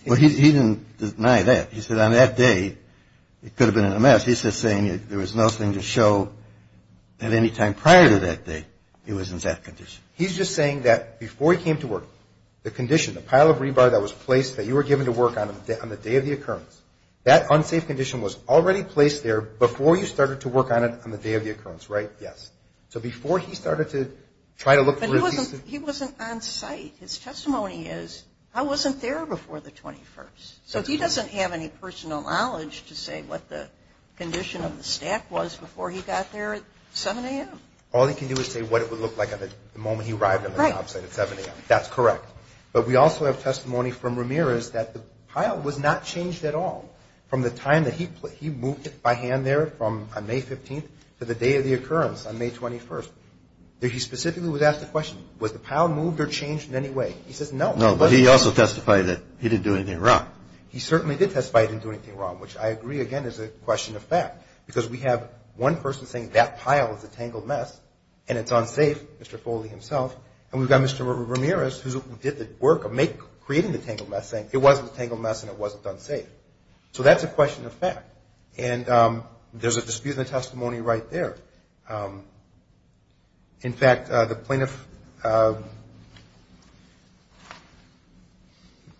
Well, he didn't deny that. He said on that day, it could have been a mess. He's just saying there was nothing to show at any time prior to that day it was in that condition. He's just saying that before he came to work, the condition, the pile of rebar that was placed that you were given to work on the day of the occurrence, that unsafe condition was already placed there before you started to work on it on the day of the occurrence, right? Yes. So before he started to try to look through. But he wasn't on site. His testimony is, I wasn't there before the 21st. So he doesn't have any personal knowledge to say what the condition of the stack was before he got there at 7 a.m. All he can do is say what it would look like the moment he arrived on the job site at 7 a.m. That's correct. But we also have testimony from Ramirez that the pile was not changed at all from the time that he moved it by hand there on May 15th to the day of the 21st. He specifically was asked the question, was the pile moved or changed in any way? He says no. No, but he also testified that he didn't do anything wrong. He certainly did testify he didn't do anything wrong, which I agree, again, is a question of fact. Because we have one person saying that pile is a tangled mess and it's unsafe, Mr. Foley himself. And we've got Mr. Ramirez who did the work of creating the tangled mess saying it wasn't a tangled mess and it wasn't unsafe. So that's a question of fact. And there's a dispute in the testimony right there. In fact, the plaintiff,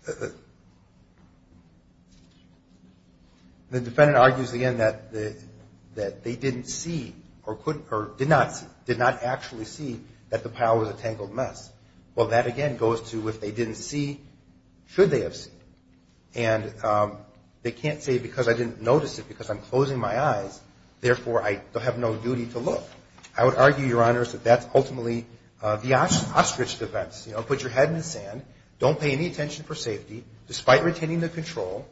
the defendant argues again that they didn't see or did not see, did not actually see that the pile was a tangled mess. Well, that, again, goes to if they didn't see, should they have seen? And they can't say because I didn't notice it, because I'm closing my eyes, therefore, I have no duty to look. I would argue, Your Honors, that that's ultimately the ostrich defense. You know, put your head in the sand, don't pay any attention for safety, despite retaining the control,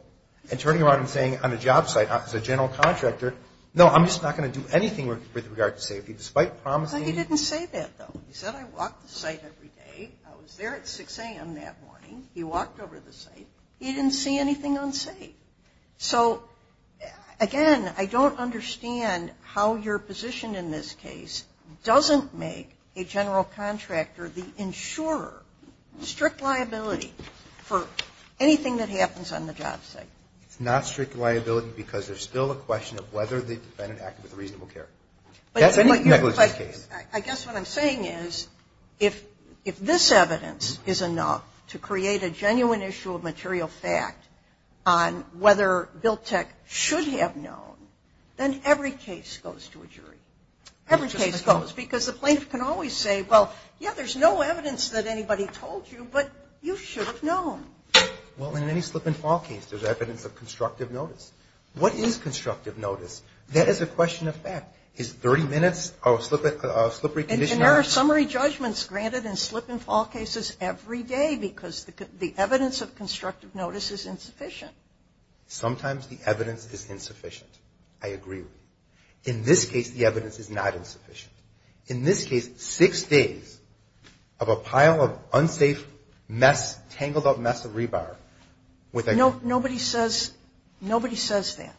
and turning around and saying on the job site as a general contractor, no, I'm just not going to do anything with regard to safety, despite promising. But he didn't say that, though. He said I walked the site every day. I was there at 6 a.m. that morning. He walked over the site. He didn't see anything unsafe. So, again, I don't understand how your position in this case doesn't make a general contractor, the insurer, strict liability for anything that happens on the job site. It's not strict liability because there's still a question of whether the defendant acted with reasonable care. That's any negligence case. I guess what I'm saying is if this evidence is enough to create a genuine issue of material fact on whether Biltech should have known, then every case goes to a jury. Every case goes because the plaintiff can always say, well, yeah, there's no evidence that anybody told you, but you should have known. Well, in any slip-and-fall case, there's evidence of constructive notice. What is constructive notice? That is a question of fact. Is 30 minutes a slippery condition? And there are summary judgments granted in slip-and-fall cases every day because the evidence of constructive notice is insufficient. Sometimes the evidence is insufficient. I agree with you. In this case, the evidence is not insufficient. In this case, six days of a pile of unsafe mess, tangled-up mess of rebar. Nobody says that.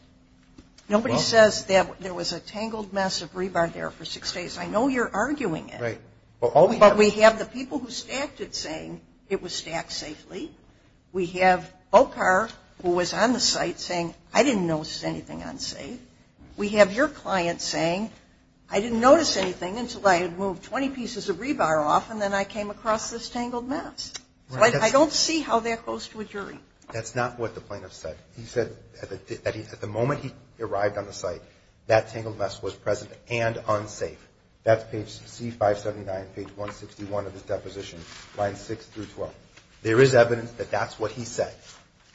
Nobody says that there was a tangled mess of rebar there for six days. I know you're arguing it. Right. But we have the people who stacked it saying it was stacked safely. We have Bochar, who was on the site, saying, I didn't notice anything unsafe. We have your client saying, I didn't notice anything until I had moved 20 pieces of rebar off, and then I came across this tangled mess. I don't see how that goes to a jury. That's not what the plaintiff said. He said that at the moment he arrived on the site, that tangled mess was present and unsafe. That's page C579, page 161 of his deposition, lines 6 through 12. There is evidence that that's what he said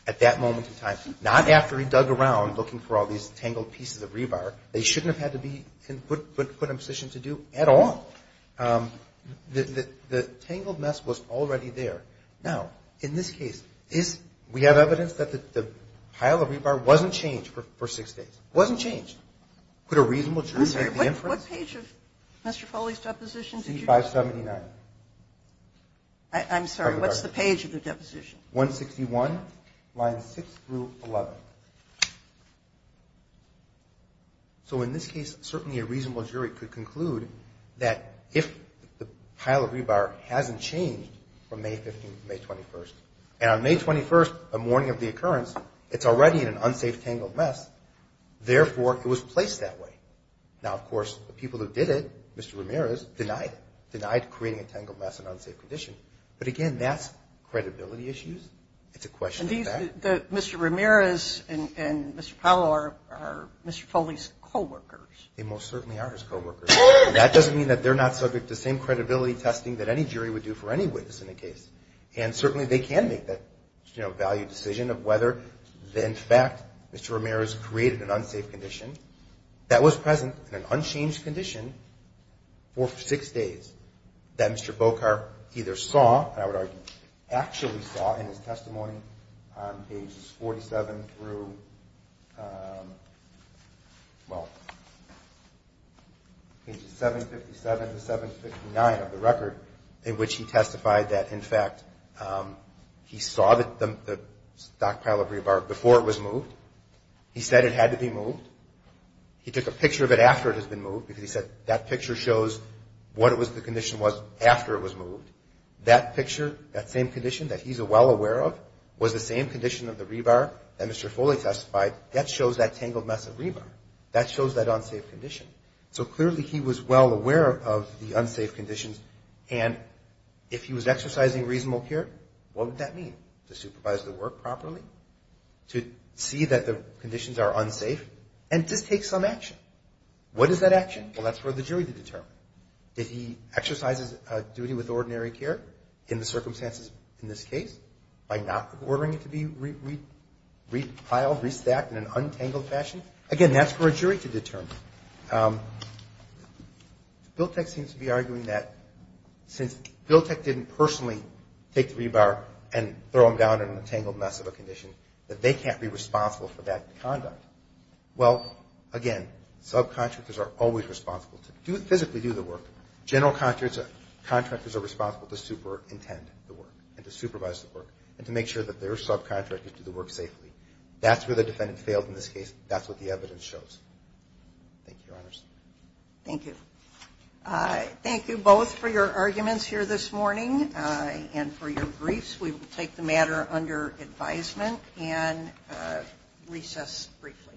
at that moment in time. Not after he dug around looking for all these tangled pieces of rebar. They shouldn't have had to be put in a position to do at all. The tangled mess was already there. Now, in this case, we have evidence that the pile of rebar wasn't changed for six days. It wasn't changed. Could a reasonable jury make the inference? I'm sorry. What page of Mr. Foley's deposition did you do? C579. I'm sorry. What's the page of the deposition? 161, lines 6 through 11. So in this case, certainly a reasonable jury could conclude that if the pile of rebar hasn't changed from May 15th to May 21st, and on May 21st, a morning of the occurrence, it's already in an unsafe tangled mess. Therefore, it was placed that way. Now, of course, the people who did it, Mr. Ramirez, denied it, denied creating a tangled mess in an unsafe condition. But, again, that's credibility issues. It's a question of fact. Mr. Ramirez and Mr. Powell are Mr. Foley's coworkers. They most certainly are his coworkers. That doesn't mean that they're not subject to the same credibility testing that any jury would do for any witness in a case. And certainly they can make that, you know, valued decision of whether, in fact, Mr. Ramirez created an unsafe condition that was present in an unchanged condition for six days that Mr. Bokar either saw, and I would argue actually saw in his testimony on pages 47 through, well, pages 757 to 759 of the record, in which he testified that, in fact, he saw the stockpile of rebar before it was moved. He said it had to be moved. He took a picture of it after it had been moved because he said that picture shows what it was, the condition was after it was moved. That picture, that same condition that he's well aware of, was the same condition of the rebar that Mr. Foley testified. That shows that tangled mess of rebar. That shows that unsafe condition. So clearly he was well aware of the unsafe conditions, and if he was exercising reasonable care, what would that mean? To supervise the work properly? To see that the conditions are unsafe? And just take some action. What is that action? Well, that's for the jury to determine. If he exercises a duty with ordinary care in the circumstances in this case by not ordering it to be repiled, restacked in an untangled fashion, again, that's for a jury to determine. BILTEC seems to be arguing that since BILTEC didn't personally take the rebar and throw him down in a tangled mess of a condition, that they can't be responsible for that conduct. Well, again, subcontractors are always responsible to physically do the work. General contractors are responsible to superintend the work and to supervise the work and to make sure that their subcontractors do the work safely. That's where the defendant failed in this case. That's what the evidence shows. Thank you, Your Honors. Thank you. Thank you both for your arguments here this morning and for your briefs. We will take the matter under advisement and recess briefly.